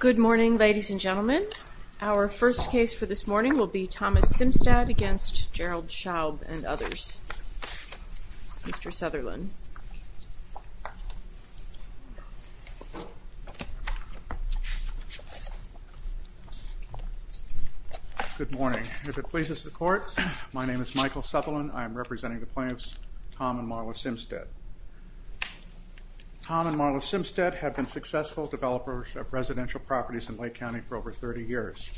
Good morning ladies and gentlemen. Our first case for this morning will be Thomas Simstad against Gerald Scheub and others. Mr. Sutherland. Good morning. If it pleases the court, my name is Michael Sutherland. I am representing the plaintiffs, Tom and Marla Simstad. Tom and Marla Simstad have been successful developers of residential properties in Lake County for over 30 years.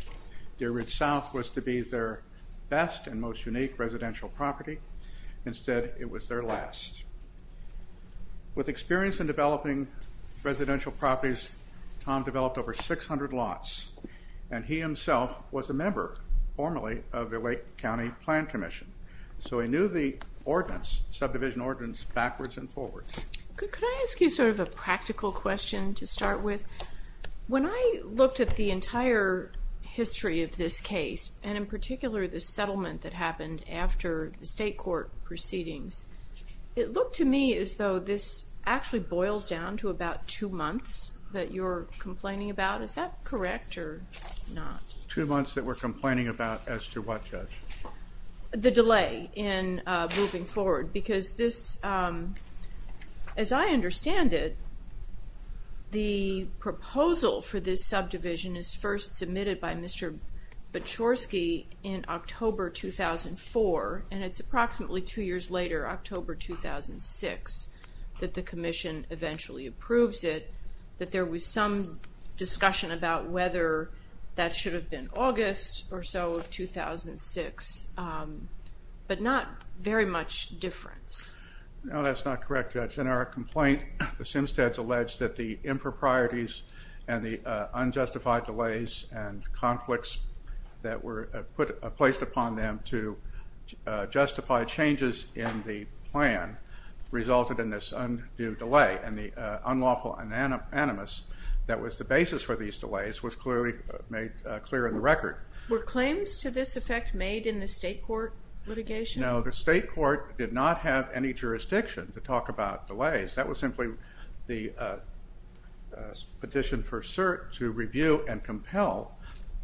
Deer Ridge South was to be their best and most unique residential property. Instead, it was their last. With experience in developing residential properties, Tom developed over 600 lots and he himself was a member, formerly, of the Lake County Plan Commission. So he knew the ordinance, subdivision ordinance, backwards and forwards. Could I ask you sort of a practical question to start with? When I looked at the entire history of this case, and in particular the settlement that happened after the state court proceedings, it looked to me as though this actually boils down to about two months that you're complaining about. Is that correct or not? Two months that we're complaining about as to what, Judge? The delay in moving forward because this, as I understand it, the proposal for this subdivision is first submitted by Mr. Baczkorski in October 2004 and it's approximately two years later, October 2006, that the Commission eventually approves it, that there was some discussion about whether that should have been August or so of 2006, but not very much difference. No, that's not correct, Judge. In our complaint, the Simsteads alleged that the improprieties and the unjustified delays and conflicts that were placed upon them to justify changes in the plan resulted in this undue delay and the unlawful anonymous that was the basis for these delays was clearly made clear in the record. Were claims to this effect made in the state court litigation? No, the state court did not have any jurisdiction to talk about delays. That was simply the petition for cert to review and compel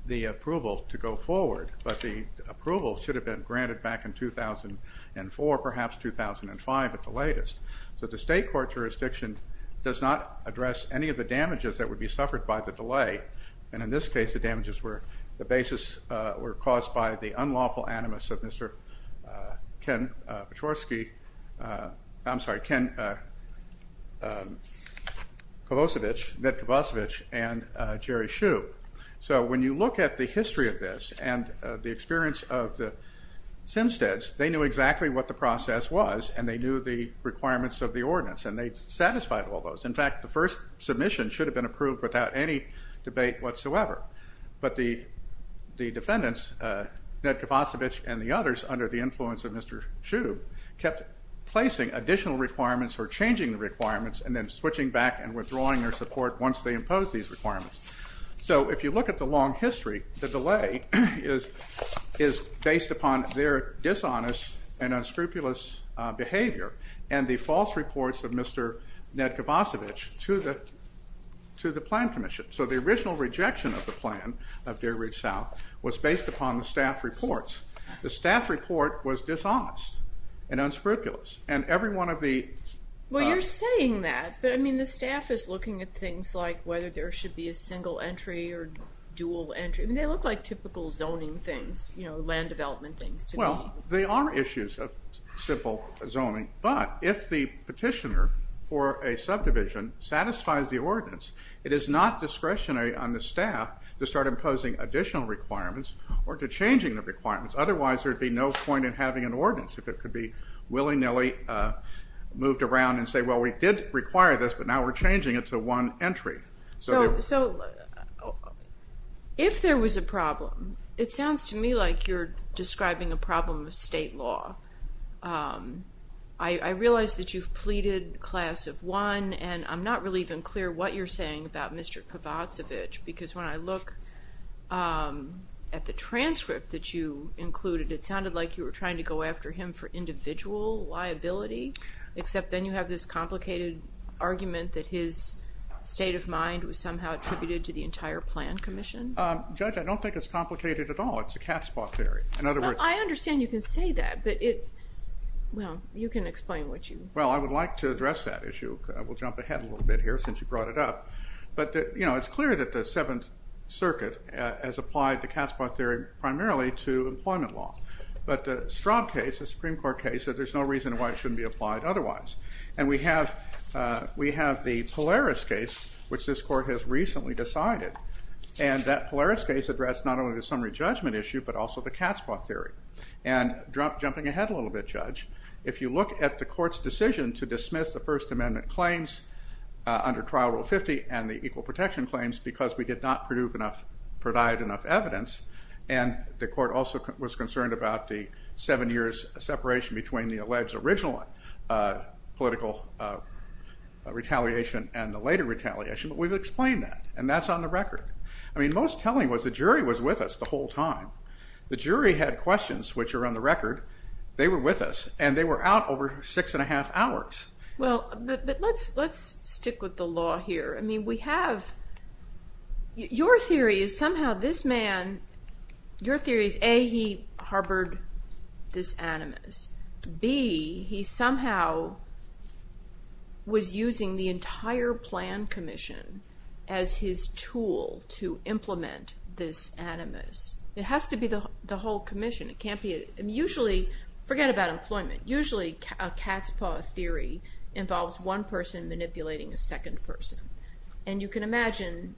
the approval to go forward, but the approval should have been granted back in 2004, perhaps 2005 at the latest, so the state court jurisdiction does not address any of the damages that would be suffered by the delay and in this case the damages were the basis were caused by the unlawful anonymous of Mr. Ken Pachorski, I'm sorry, Ken Kavosevich, Ned Kavosevich and Jerry Hsu. So when you look at the history of this and the experience of the Simsteads, they knew exactly what the process was and they knew the requirements of the ordinance and they satisfied all those. In fact, the first submission should have been approved without any debate whatsoever, but the defendants, Ned Kavosevich and the others, under the influence of Mr. Hsu, kept placing additional requirements or changing the requirements and then switching back and withdrawing their support once they imposed these requirements. So if you look at the long history, the delay is based upon their dishonest and unscrupulous behavior and the false reports of Mr. Ned Kavosevich to the to the plan commission. So the original rejection of the plan of Deer Ridge South was based upon the staff reports. The staff report was dishonest and unscrupulous and every one of the... Well, you're saying that, but I mean the staff is looking at things like whether there should be a single entry or dual entry. They look like typical zoning things, you know, land development things. Well, they are issues of simple zoning, but if the petitioner for a subdivision satisfies the ordinance, it is not discretionary on the staff to start imposing additional requirements or to changing the requirements. Otherwise, there'd be no point in having an ordinance if it could be willy-nilly moved around and say, well, we did require this, but now we're changing it to one entry. So if there was a problem, it I realize that you've pleaded class of one and I'm not really even clear what you're saying about Mr. Kavosevich, because when I look at the transcript that you included, it sounded like you were trying to go after him for individual liability, except then you have this complicated argument that his state of mind was somehow attributed to the entire plan commission. Judge, I don't think it's complicated at all. It's a cat's paw theory. In other words... I can explain what you... Well, I would like to address that issue. We'll jump ahead a little bit here since you brought it up, but, you know, it's clear that the Seventh Circuit has applied the cat's paw theory primarily to employment law, but the Straub case, the Supreme Court case, there's no reason why it shouldn't be applied otherwise, and we have the Polaris case, which this court has recently decided, and that Polaris case addressed not only the summary judgment issue, but also the cat's paw theory, and jumping ahead a little bit, Judge, if you look at the court's decision to dismiss the First Amendment claims under Trial Rule 50 and the equal protection claims because we did not produce enough, provide enough evidence, and the court also was concerned about the seven years separation between the alleged original political retaliation and the later retaliation, but we've explained that, and that's on the record. I mean, most telling was the jury was with us the whole time. The jury had questions, which are on the record, about over six and a half hours. Well, but let's, let's stick with the law here. I mean, we have, your theory is somehow this man, your theory is A, he harbored this animus. B, he somehow was using the entire plan commission as his tool to implement this animus. It has to be the whole commission. It can't be, usually, forget about employment, usually a cat's paw theory involves one person manipulating a second person, and you can imagine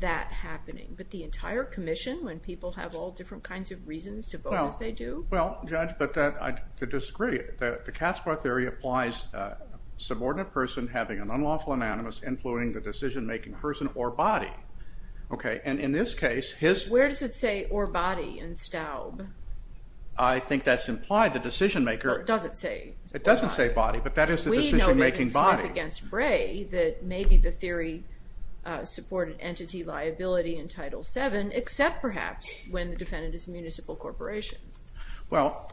that happening, but the entire commission, when people have all different kinds of reasons to vote as they do? Well, Judge, but that, I disagree. The cat's paw theory applies subordinate person having an unlawful animus influencing the decision-making person or I think that's implied the decision-maker. It doesn't say. It doesn't say body, but that is the decision-making body. We know that in Smith against Bray, that maybe the theory supported entity liability in Title VII, except perhaps when the defendant is a municipal corporation. Well,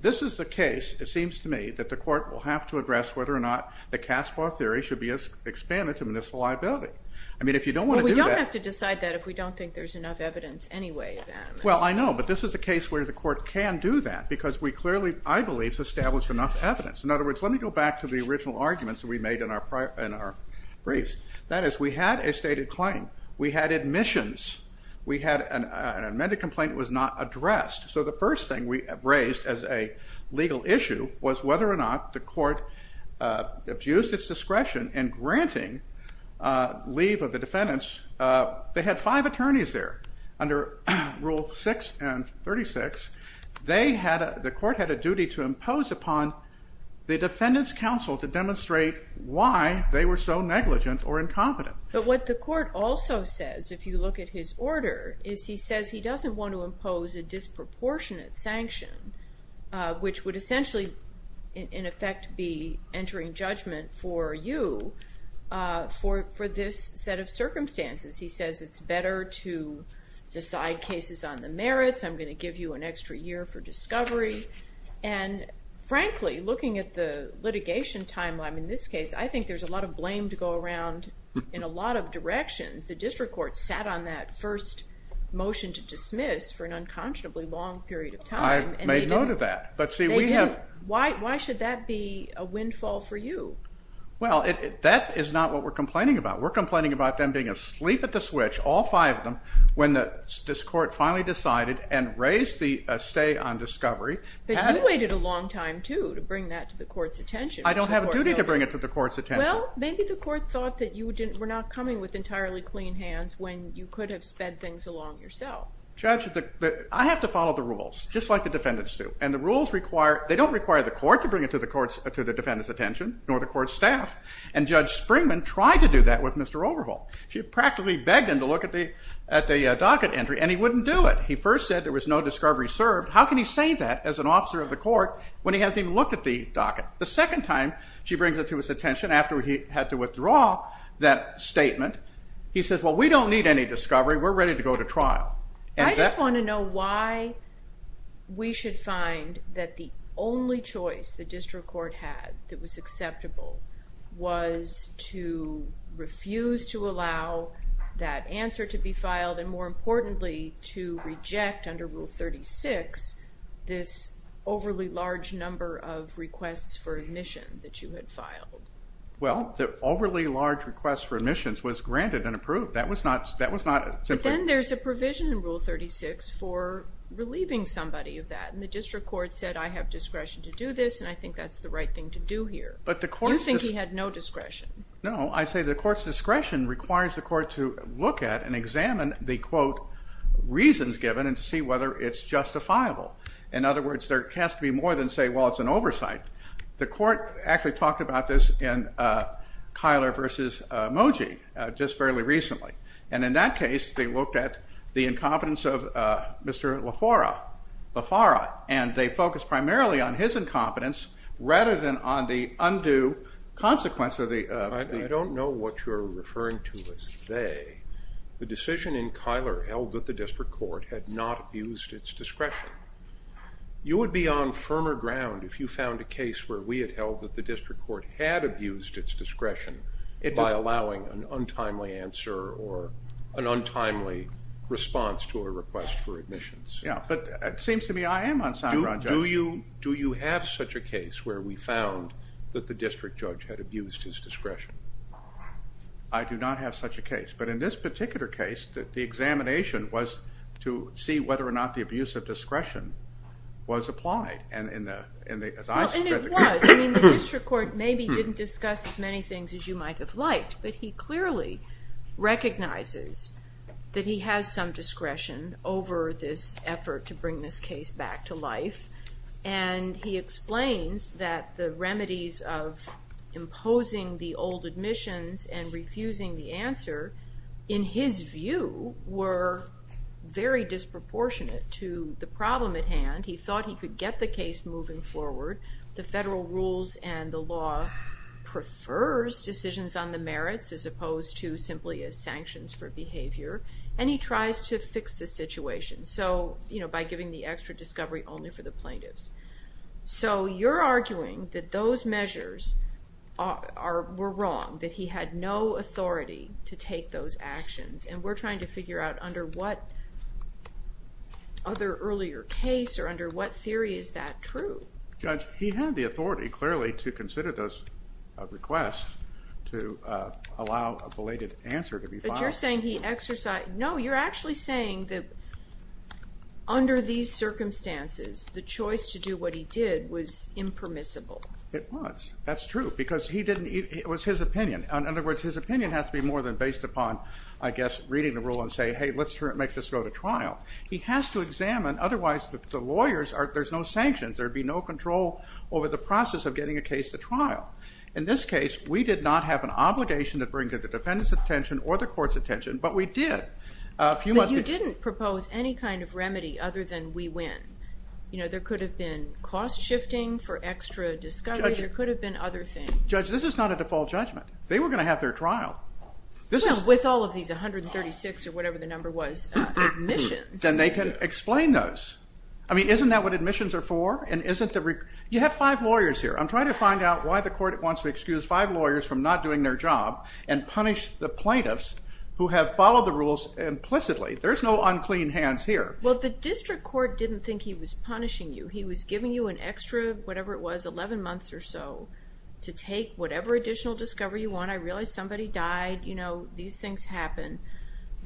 this is the case, it seems to me, that the court will have to address whether or not the cat's paw theory should be expanded to municipal liability. I mean, if you don't want to do that. We don't have to decide that if we don't think there's enough evidence anyway. Well, I know, but this is a case where the court can do that, because we clearly, I believe, established enough evidence. In other words, let me go back to the original arguments that we made in our briefs. That is, we had a stated claim, we had admissions, we had an amended complaint was not addressed, so the first thing we raised as a legal issue was whether or not the court abused its discretion in granting leave of the defendants. They had five attorneys there under Rule 6 and 36. The court had a duty to impose upon the defendant's counsel to demonstrate why they were so negligent or incompetent. But what the court also says, if you look at his order, is he says he doesn't want to impose a disproportionate sanction, which would essentially, in effect, be entering judgment for you for this set of circumstances. He says it's better to decide cases on the merits, I'm going to give you an extra year for discovery, and frankly, looking at the litigation timeline in this case, I think there's a lot of blame to go around in a lot of directions. The district court sat on that first motion to dismiss for an unconscionably long period of time. I made note of that, but see we have... Why should that be a windfall for you? Well, that is not what we're complaining about. We're complaining about them being asleep at the switch, all five of them, when this court finally decided and raised the stay on discovery. But you waited a long time, too, to bring that to the court's attention. I don't have a duty to bring it to the court's attention. Well, maybe the court thought that you were not coming with entirely clean hands when you could have sped things along yourself. Judge, I have to follow the rules, just like the defendants do, and the rules require... they don't require the court to bring it to the defendant's attention, nor the defendant to look at the docket entry, and he wouldn't do it. He first said there was no discovery served. How can he say that as an officer of the court when he hasn't even looked at the docket? The second time she brings it to his attention, after he had to withdraw that statement, he says, well, we don't need any discovery. We're ready to go to trial. I just want to know why we should find that the only choice the district court had that was acceptable was to refuse to allow that answer to be filed, and more importantly, to reject, under Rule 36, this overly large number of requests for admission that you had filed. Well, the overly large requests for admissions was granted and approved. That was not simply... But then there's a provision in Rule 36 for relieving somebody of that, and the district court said, I have discretion to do this, and I think that's the right thing to do here. But the court... You think he had no discretion? No, I encourage the court to look at and examine the, quote, reasons given and to see whether it's justifiable. In other words, there has to be more than say, well, it's an oversight. The court actually talked about this in Keiler versus Moji just fairly recently, and in that case, they looked at the incompetence of Mr. LaFara, and they focused primarily on his incompetence rather than on the undue consequence of the... I don't know what you're referring to as they. The decision in Keiler held that the district court had not abused its discretion. You would be on firmer ground if you found a case where we had held that the district court had abused its discretion by allowing an untimely answer or an untimely response to a request for admissions. Yeah, but it seems to me I am on sound ground. Do you have such a case? I do not have such a case, but in this particular case, the examination was to see whether or not the abuse of discretion was applied. Well, and it was. I mean, the district court maybe didn't discuss as many things as you might have liked, but he clearly recognizes that he has some discretion over this effort to bring this case back to life, and he explains that the remedies of imposing the old admissions and refusing the answer, in his view, were very disproportionate to the problem at hand. He thought he could get the case moving forward. The federal rules and the law prefers decisions on the merits as opposed to simply as sanctions for behavior, and he tries to fix the situation, so, you know, by giving the extra discovery only for the plaintiffs. So you're arguing that those he had no authority to take those actions, and we're trying to figure out under what other earlier case or under what theory is that true? Judge, he had the authority, clearly, to consider those requests to allow a belated answer to be filed. But you're saying he exercised, no, you're actually saying that under these circumstances, the choice to do what he did was impermissible. It was, that's true, because he didn't, it was his opinion. In other words, his opinion has to be more than based upon, I guess, reading the rule and say, hey, let's make this go to trial. He has to examine, otherwise the lawyers are, there's no sanctions, there would be no control over the process of getting a case to trial. In this case, we did not have an obligation to bring to the defendant's attention or the court's attention, but we did. But you didn't propose any kind of remedy other than we win. You know, there could have been cost shifting for extra discovery, there could have been other things. Judge, this is not a default judgment. They were gonna have their trial. With all of these 136 or whatever the number was, admissions. Then they can explain those. I mean, isn't that what admissions are for? And isn't the, you have five lawyers here. I'm trying to find out why the court wants to excuse five lawyers from not doing their job and punish the plaintiffs who have followed the rules implicitly. There's no unclean hands here. Well, the district court didn't think he was punishing you. He was giving you an extra, whatever it was, 11 months or so to take whatever additional discovery you want. I realized somebody died, you know, these things happen.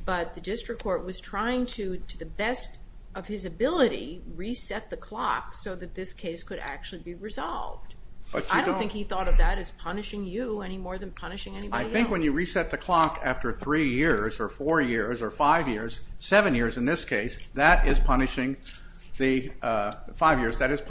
But the district court was trying to, to the best of his ability, reset the clock so that this case could actually be resolved. But I don't think he thought of that as punishing you any more than punishing anybody else. I think when you reset the clock after three years or four years or five years, seven years in this case, that is punishing the, five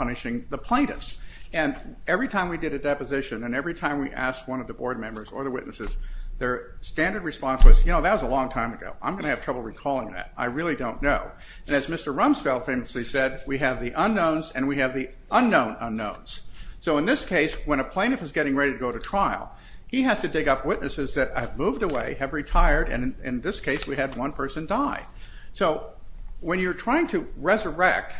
plaintiffs. And every time we did a deposition and every time we asked one of the board members or the witnesses, their standard response was, you know, that was a long time ago. I'm gonna have trouble recalling that. I really don't know. And as Mr. Rumsfeld famously said, we have the unknowns and we have the unknown unknowns. So in this case, when a plaintiff is getting ready to go to trial, he has to dig up witnesses that have moved away, have retired, and in this case we had one person die. So when you're trying to resurrect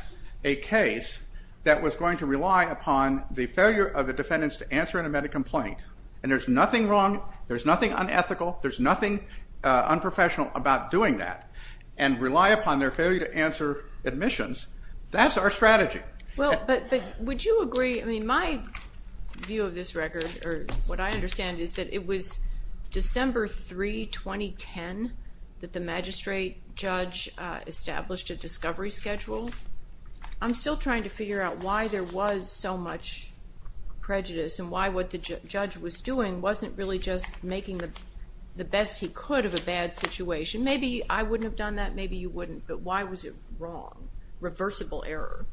a case that was going to rely upon the failure of the defendants to answer an amended complaint, and there's nothing wrong, there's nothing unethical, there's nothing unprofessional about doing that, and rely upon their failure to answer admissions, that's our strategy. Well, but would you agree, I mean, my view of this record or what I understand is that it was December 3, 2010, that the magistrate judge established a discovery schedule. I'm still trying to figure out why there was so much prejudice and why what the judge was doing wasn't really just making the best he could of a bad situation. Maybe I wouldn't have done that, maybe you wouldn't, but why was it wrong, reversible error?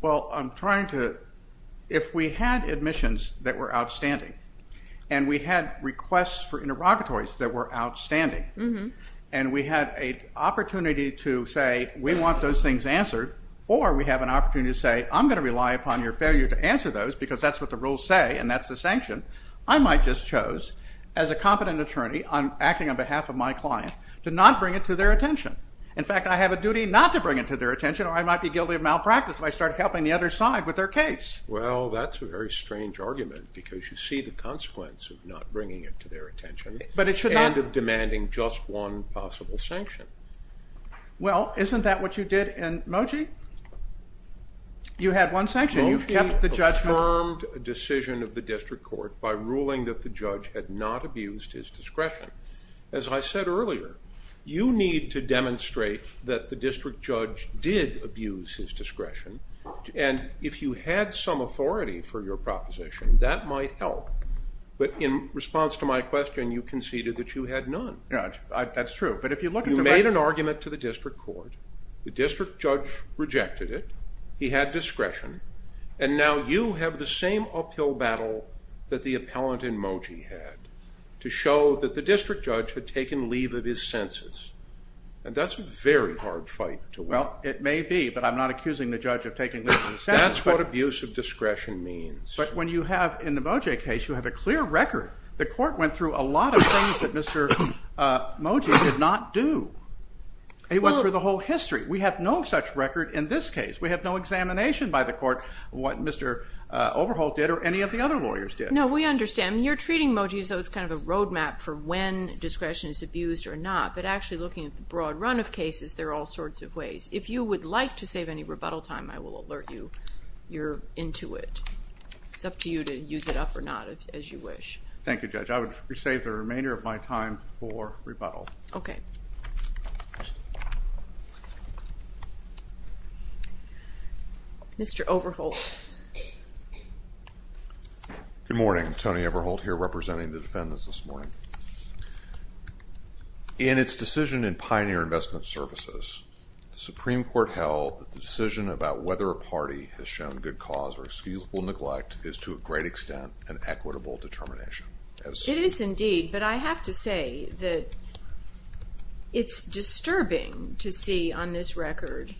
Well, I'm trying to, if we had admissions that were outstanding and we had requests for and we had an opportunity to say, we want those things answered, or we have an opportunity to say, I'm going to rely upon your failure to answer those because that's what the rules say and that's the sanction, I might just chose as a competent attorney, I'm acting on behalf of my client, to not bring it to their attention. In fact, I have a duty not to bring it to their attention or I might be guilty of malpractice if I start helping the other side with their case. Well, that's a very strange argument because you see the consequence of not Well, isn't that what you did in Moji? You had one sanction, you kept the judgment. Moji affirmed a decision of the district court by ruling that the judge had not abused his discretion. As I said earlier, you need to demonstrate that the district judge did abuse his discretion and if you had some authority for your proposition, that might help, but in response to my question, you conceded that you had none. Yeah, that's true, but if you look... You made an argument to the district court, the district judge rejected it, he had discretion, and now you have the same uphill battle that the appellant in Moji had, to show that the district judge had taken leave of his senses, and that's a very hard fight to win. Well, it may be, but I'm not accusing the judge of taking leave of his senses. That's what abuse of discretion means. But when you have, in the Moji case, you have a clear record, the Mr. Moji did not do. He went through the whole history. We have no such record in this case. We have no examination by the court of what Mr. Overholt did or any of the other lawyers did. No, we understand. You're treating Moji as though it's kind of a roadmap for when discretion is abused or not, but actually looking at the broad run of cases, there are all sorts of ways. If you would like to save any rebuttal time, I will alert you. You're into it. It's up to you to use it or not, as you wish. Thank you, Judge. I would save the remainder of my time for rebuttal. Okay. Mr. Overholt. Good morning. Tony Overholt here, representing the defendants this morning. In its decision in Pioneer Investment Services, the Supreme Court held that the decision about whether a party has shown good cause or excusable neglect is to a great extent an equitable determination. It is indeed, but I have to say that it's disturbing to see on this record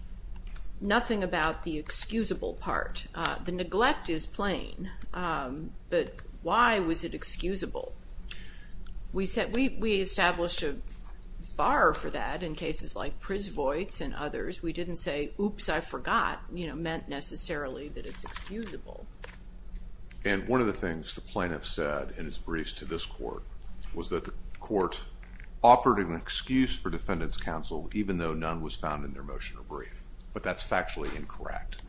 nothing about the excusable part. The neglect is plain, but why was it excusable? We established a bar for that in cases like Prisvoit's and it's excusable. And one of the things the plaintiff said in his briefs to this court was that the court offered an excuse for defendants counsel even though none was found in their motion or brief, but that's factually incorrect.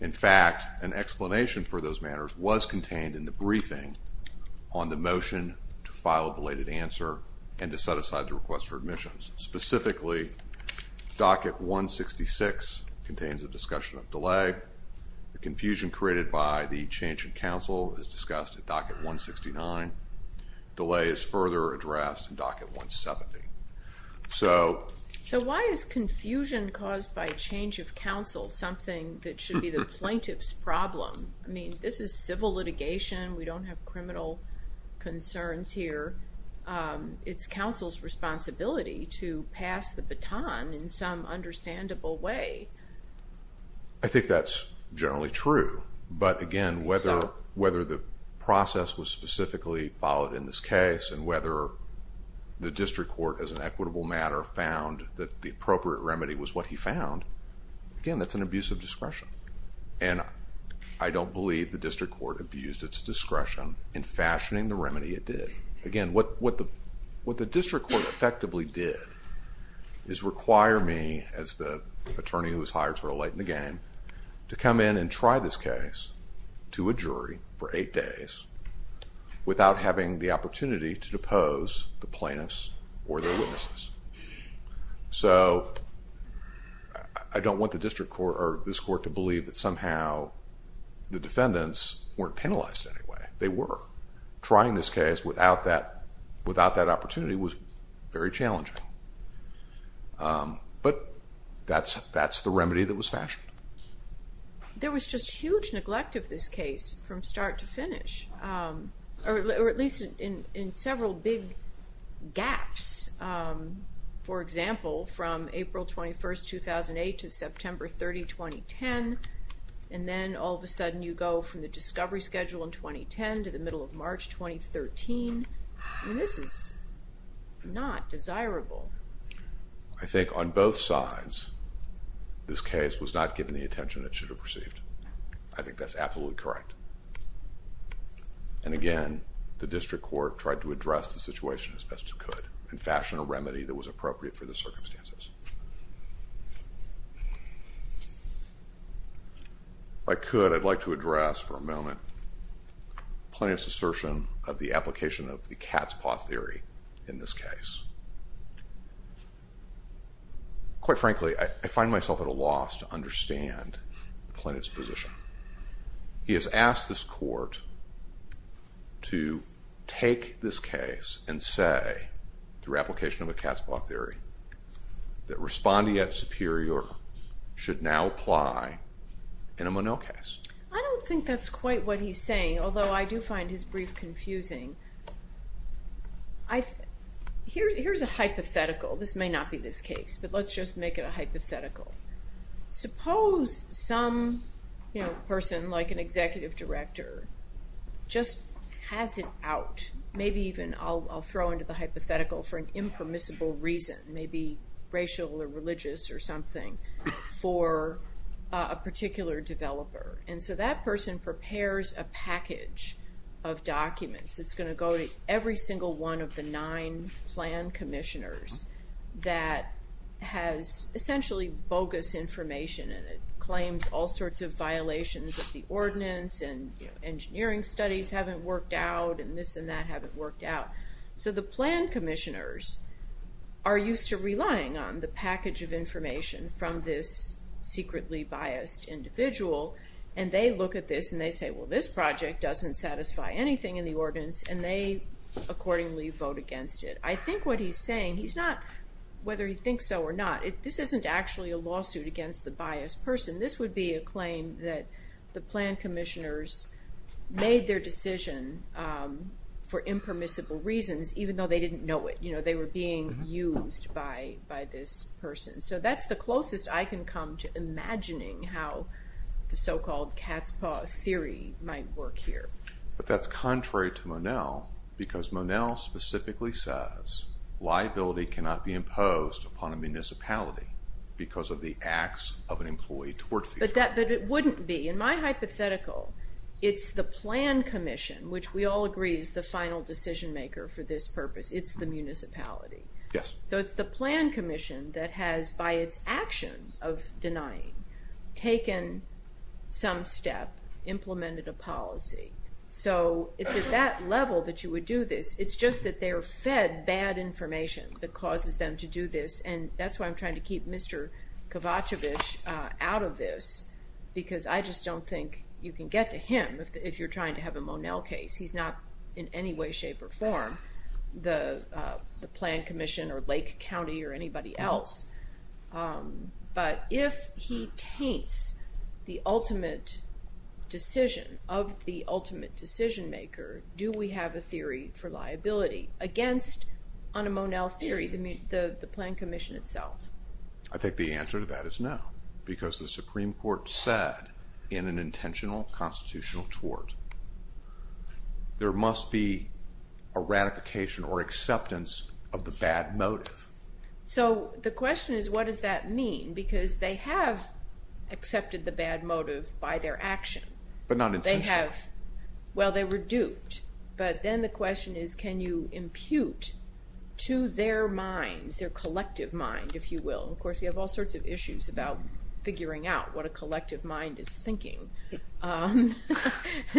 In fact, an explanation for those manners was contained in the briefing on the motion to file a belated answer and to set aside the request for admissions. Specifically, docket 166 contains a discussion of delay. The confusion created by the change in counsel is discussed at docket 169. Delay is further addressed in docket 170. So why is confusion caused by change of counsel something that should be the plaintiff's problem? I mean, this is civil litigation. We don't have criminal concerns here. It's counsel's responsibility to pass the baton in some understandable way. I think that's generally true, but again, whether the process was specifically followed in this case and whether the district court as an equitable matter found that the appropriate remedy was what he found, again, that's an abuse of discretion. And I don't believe the district court abused its discretion in fashioning the remedy it did. Again, what the district court effectively did is require me as the attorney who was hired sort of late in the game to come in and try this case to a jury for eight days without having the opportunity to depose the plaintiffs or their witnesses. So, I don't want the district court or this court to believe that somehow the defendants weren't penalized in any way. They were. Trying this case without that opportunity was very challenging. But that's the remedy that was fashioned. There was just huge neglect of this case from start to finish, or at least in several big gaps. For example, from April 21st, 2008 to the discovery schedule in 2010 to the middle of March 2013. I mean, this is not desirable. I think on both sides, this case was not given the attention it should have received. I think that's absolutely correct. And again, the district court tried to address the situation as best it could and fashion a remedy that was appropriate for the circumstances. If I could, I'd like to address for a moment Plaintiff's assertion of the application of the cat's paw theory in this case. Quite frankly, I find myself at a loss to understand the plaintiff's position. He has asked this court to take this case and say, through application of a cat's paw theory, that respondeat superior should now apply in a Monocase. I don't think that's quite what he's saying, although I do find his brief confusing. Here's a hypothetical. This may not be this case, but let's just make it a hypothetical. Suppose some person, like an executive director, just has it out. Maybe even I'll throw into the hypothetical for an impermissible reason, maybe racial or religious or something, for a particular developer. And so that person prepares a package of documents. It's gonna go to every single one of the nine plan commissioners that has essentially bogus information, and it claims all sorts of violations of the ordinance, and engineering studies haven't worked out, and this and that haven't worked out. So the plan commissioners are used to relying on the package of information from this secretly biased individual, and they look at this and they say, well, this project doesn't satisfy anything in the ordinance, and they accordingly vote against it. I think what he's saying, he's not... Whether he thinks so or not, this isn't actually a lawsuit against the biased person. This would be a claim that the plan commissioners made their decision for impermissible reasons, even though they didn't know it. They were being used by this person. So that's the closest I can come to imagining how the so called cat's paw theory might work here. But that's contrary to Monell, because Monell specifically says liability cannot be imposed upon a municipality because of the acts of an employee towards the... But it wouldn't be. In my hypothetical, it's the plan commission, which we all agree is the final decision maker for this purpose. It's the municipality. Yes. So it's the plan commission that has, by its action of denying, taken some step, implemented a policy. So it's at that level that you would do this. It's just that they're fed bad information that causes them to do this, and that's why I'm trying to keep Mr. Kovacevic out of this, because I just don't think you can get to him if you're trying to have a Monell case. He's not in any way, shape or form the plan commission or Lake County or anybody else. But if he taints the ultimate decision of the ultimate decision maker, do we have a theory for liability against, on a Monell theory, the plan commission itself? I think the answer to that is no, because the Supreme Court said in an intentional constitutional tort, there must be a ratification or acceptance of the bad motive. So the question is, what does that mean? Because they have accepted the bad motive by their action. But not intentionally. They have... But then the question is, can you impute to their minds, their collective mind, if you will? Of course, you have all sorts of issues about figuring out what a collective mind is thinking. And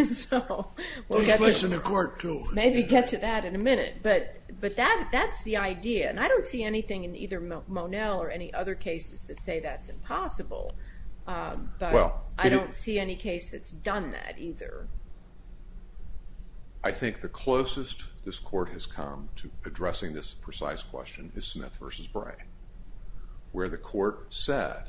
so, we'll get to... Well, he's placing the court too. Maybe get to that in a minute. But that's the idea. And I don't see anything in either Monell or any other cases that say that's impossible, but I don't see any case that's done that either. I think the closest this court has come to addressing this precise question is Smith versus Bray, where the court said,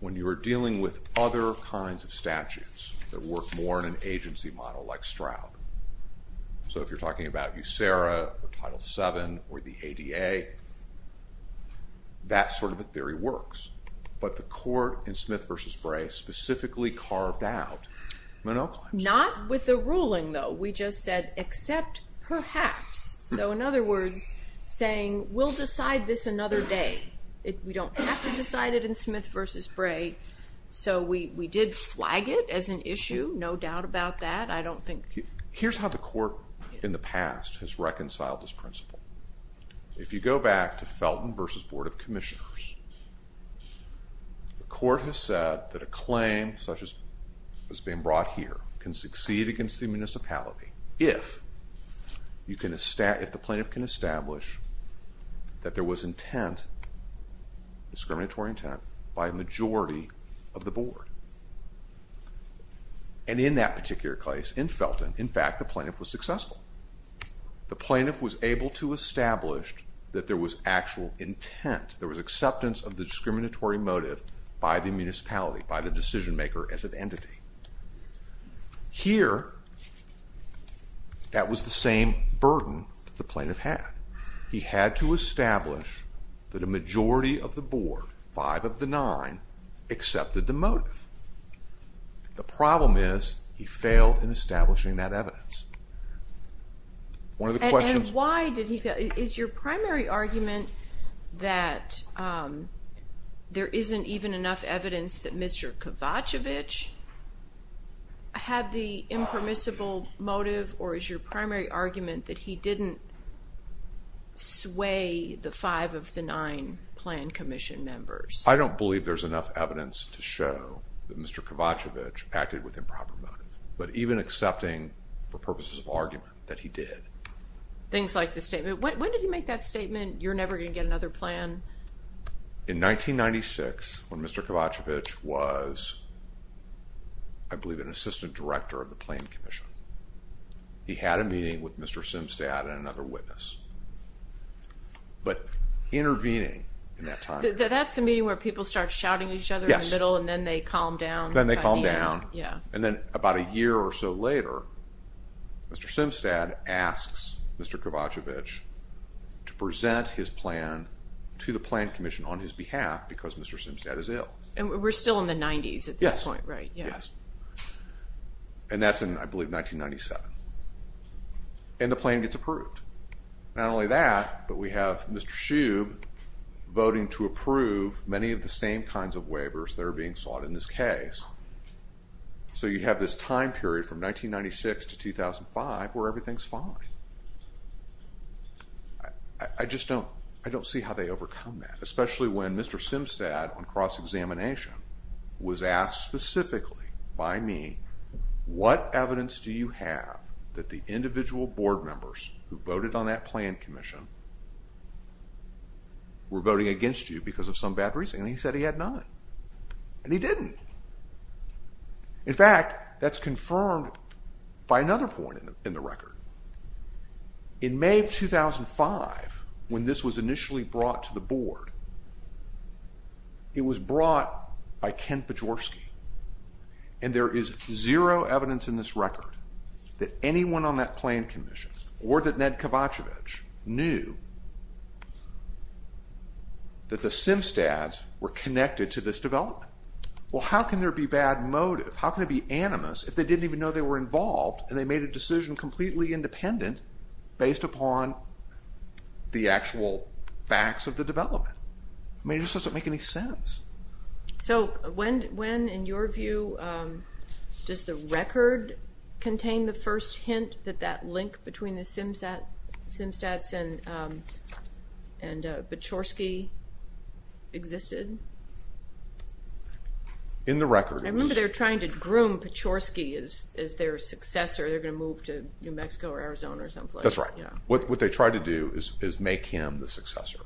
when you are dealing with other kinds of statutes that work more in an agency model like Stroud. So if you're talking about USERA or Title II, ADA, that sort of a theory works. But the court in Smith versus Bray specifically carved out Monell claims. Not with the ruling, though. We just said, except perhaps. So in other words, saying, we'll decide this another day. We don't have to decide it in Smith versus Bray. So we did flag it as an issue. No doubt about that. I don't think... Here's how the court in the past has reconciled this principle. If you go back to Felton versus Board of Commissioners, the court has said that a claim such as has been brought here can succeed against the municipality if the plaintiff can establish that there was intent, discriminatory intent, by a majority of the board. And in that particular case, in Felton, in fact, the plaintiff was successful. The plaintiff was able to establish that there was actual intent, there was acceptance of the discriminatory motive by the municipality, by the decision maker as an entity. Here, that was the same burden that the plaintiff had. He had to establish that a majority of the board, five of the nine, accepted the motive. The problem is he failed in establishing that evidence. One of the questions... And why did he fail? Is your primary argument that there isn't even enough evidence that Mr. Kavacevich had the impermissible motive, or is your primary argument that he didn't sway the five of the nine plan commission members? I don't believe there's enough evidence to show that Mr. Kavacevich acted with improper motive, but even accepting, for purposes of argument, that he did. Things like the statement... When did he make that statement, you're never gonna get another plan? In 1996, when Mr. Kavacevich was, I believe, an assistant director of the Plaintiff Commission. He had a meeting with Mr. Simstad and another witness, but intervening in that time period... That's the meeting where people start shouting at each other in the middle, and then they calm down. Then they calm down, and then about a year or so later, Mr. Simstad asks Mr. Kavacevich to present his plan to the Plaintiff Commission on his behalf, because Mr. Simstad is ill. And we're still in the 90s at this point, right? Yes. Yes. And that's in, I believe, 1997. And the plan gets approved. Not only that, but we have Mr. Shube voting to approve many of the same kinds of waivers that are being sought in this case. So you have this time period from 1996 to 2005, where everything's fine. I just don't see how they overcome that, especially when Mr. Simstad, on cross examination, was asked specifically by me, what evidence do you have that the individual board members who voted on that plan commission were voting against you because of some bad reason? And he said he had none. And he didn't. In fact, that's confirmed by another point in the record. In May of 2005, when this was initially brought to the board, it was brought by Ken Pajorski. And there is zero evidence in this record that anyone on that plan commission or that Ned Kavacevich knew that the Simstads were connected to this development. Well, how can there be bad motive? How can it be animus if they didn't even know they were involved and they made a decision completely independent based upon the actual facts of the development? I mean, it just doesn't make any sense. So when, in your view, does the record contain the first hint that that link between the Simstads and Pajorski existed? In the record. I remember they were trying to groom Pajorski as their successor. They're gonna move to New Mexico or Arizona or some place. That's right. What they tried to do is make him the successor.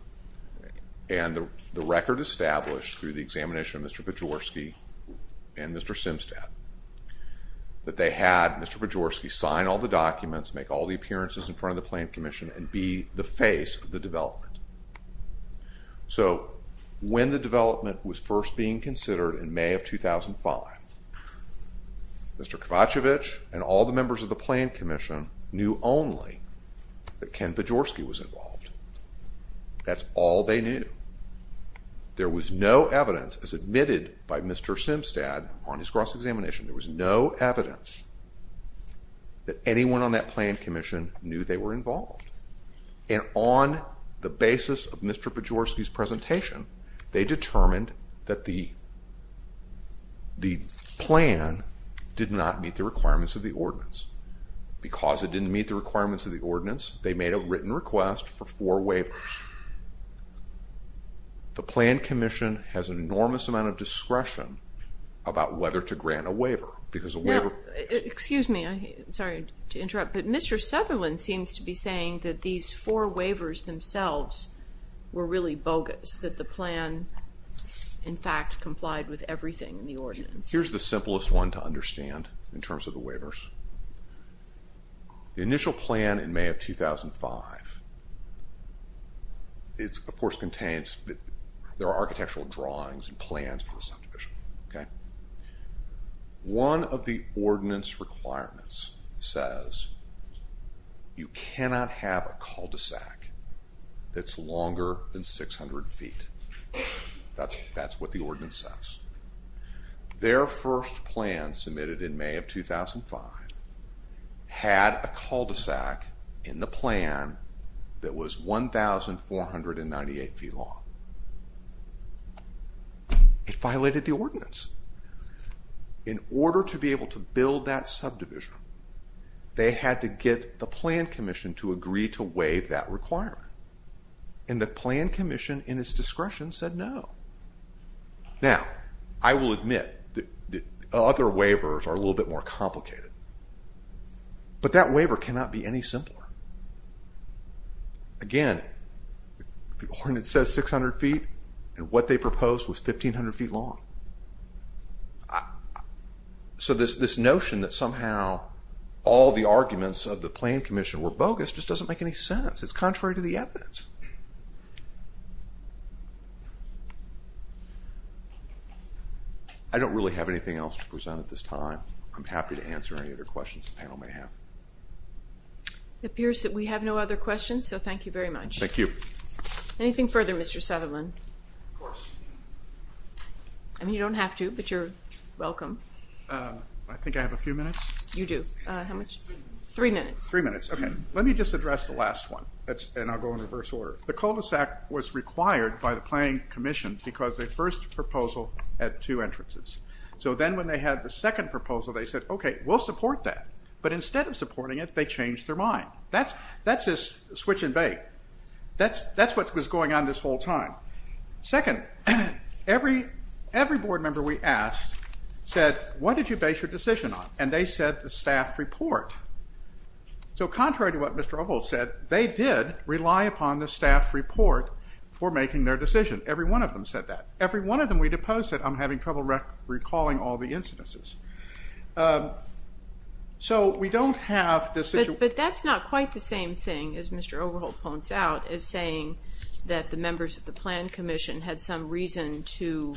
And the record established through the examination of Mr. Pajorski and Mr. Simstad, that they had Mr. Pajorski sign all the documents, make all the appearances in front of the plan commission, and be the face of the development. So when the development was first being considered in May of 2005, Mr. Kavacevich and all the members of the plan commission knew only that Ken Pajorski was involved. That's all they knew. There was no evidence, as admitted by Mr. Simstad on his cross examination, there was no evidence that anyone on that plan commission knew they were involved. And on the basis of Mr. Pajorski's presentation, they determined that the plan did not meet the requirements of the ordinance. Because it didn't meet the requirements of the ordinance, they made a written request for four waivers. The plan commission has an enormous amount of waiver, because the waiver... Well, excuse me, I'm sorry to interrupt, but Mr. Sutherland seems to be saying that these four waivers themselves were really bogus. That the plan, in fact, complied with everything in the ordinance. Here's the simplest one to understand in terms of the waivers. The initial plan in May of 2005, it of course contains... There are architectural drawings and plans for the ordinance. One of the ordinance requirements says, you cannot have a cul de sac that's longer than 600 feet. That's what the ordinance says. Their first plan submitted in May of 2005 had a cul de sac in the plan that was 1,498 feet long. It violated the ordinance. In order to be able to build that subdivision, they had to get the plan commission to agree to waive that requirement. And the plan commission, in its discretion, said no. Now, I will admit that other waivers are a little bit more complicated, but that waiver cannot be any simpler. Again, the ordinance says 600 feet, and what they proposed was 1,500 feet long. So this notion that somehow all the arguments of the plan commission were bogus just doesn't make any sense. It's contrary to the evidence. I don't really have anything else to present at this time. I'm happy to answer any other questions the panel may have. It appears that we have no other questions, so thank you very much. Thank you. Anything further, Mr. Sutherland? Of course. I mean, you don't have to, but you're welcome. I think I have a few minutes. You do. How much? Three minutes. Three minutes. Okay. Let me just address the last one, and I'll go in reverse order. The cul de sac was required by the plan commission because their first proposal had two entrances. So then when they had the second proposal, they said, okay, we'll support that, but instead of supporting it, they changed their mind. That's just switch and bake. That's what was going on this whole time. Second, every board member we asked said, what did you base your decision on? And they said the staff report. So contrary to what Mr. O'Holt said, they did rely upon the staff report for making their decision. Every one of them said that. Every one of them we deposed said, I'm having trouble recalling all the incidences. So we don't have this issue. But that's not quite the same thing, as Mr. O'Holt points out, as saying that the members of the plan commission had some reason to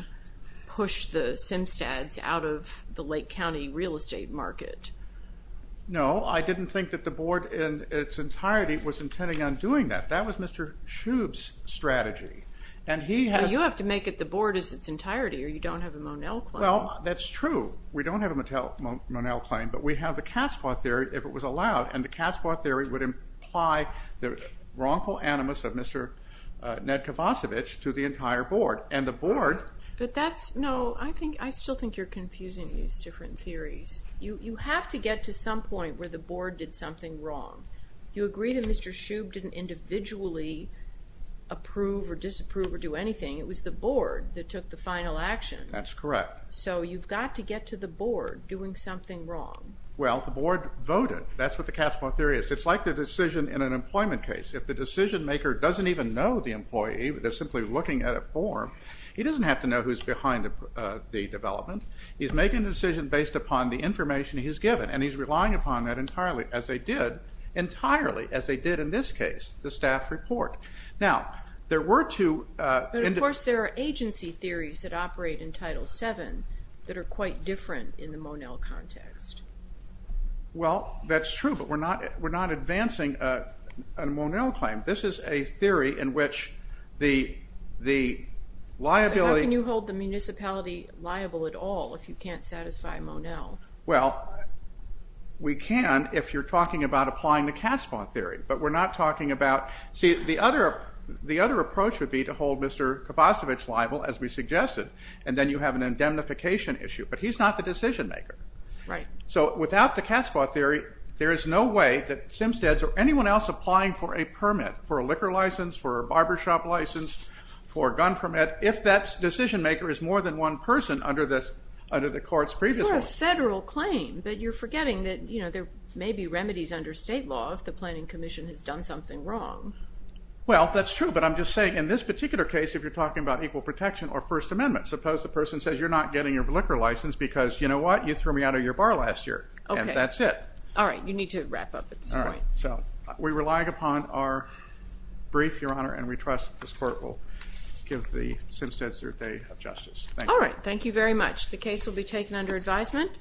push the Simstads out of the Lake County real estate market. No, I didn't think that the board in its entirety was intending on doing that. That was Mr. Shube's strategy, and he has... Well, you have to make it the board as its entirety, or you don't have a Monell claim. Well, that's true. We don't have a Monell claim, but we have the Casbah theory, if it was allowed, and the Casbah theory would imply the wrongful animus of Mr. Nedkovacevich to the entire board, and the board... But that's... No, I still think you're confusing these different theories. You have to get to some point where the board did something wrong. You agree that Mr. Shube didn't individually approve or disapprove or do anything. It was the board that took the final action. That's correct. So you've got to get to the board doing something wrong. Well, the board voted. That's what the Casbah theory is. It's like the decision in an employment case. If the decision maker doesn't even know the employee, they're simply looking at a form, he doesn't have to know who's behind the development. He's making a decision based upon the information he's given, and he's relying upon that entirely, as they did in this case, the staff report. Now, there were two... But, of course, there are agency theories that operate in Title VII that are quite different in the Monell context. Well, that's true, but we're not advancing a Monell claim. This is a theory in which the liability... So how can you hold the municipality liable at all if you can't satisfy Monell? Well, we can if you're talking about applying the Casbah theory, but we're not talking about... See, the other approach would be to hold Mr. Kibosiewicz liable, as we suggested, and then you have an indemnification issue, but he's not the decision maker. So without the Casbah theory, there is no way that Simsteads or anyone else applying for a permit, for a liquor license, for a barbershop license, for a gun permit, if that decision maker is more than one person under the court's previous one. For a federal claim, but you're forgetting that there may be remedies under state law if the planning commission has done something wrong. Well, that's true, but I'm just saying in this particular case, if you're talking about equal protection or First Amendment, suppose the person says you're not getting your liquor license because, you know what, you threw me out of your bar last year, and that's it. All right, you need to wrap up at this point. So we rely upon our brief, Your Honor, and we trust this court will give the Simsteads their day of justice. All right, thank you very much. The case will be taken under advisement.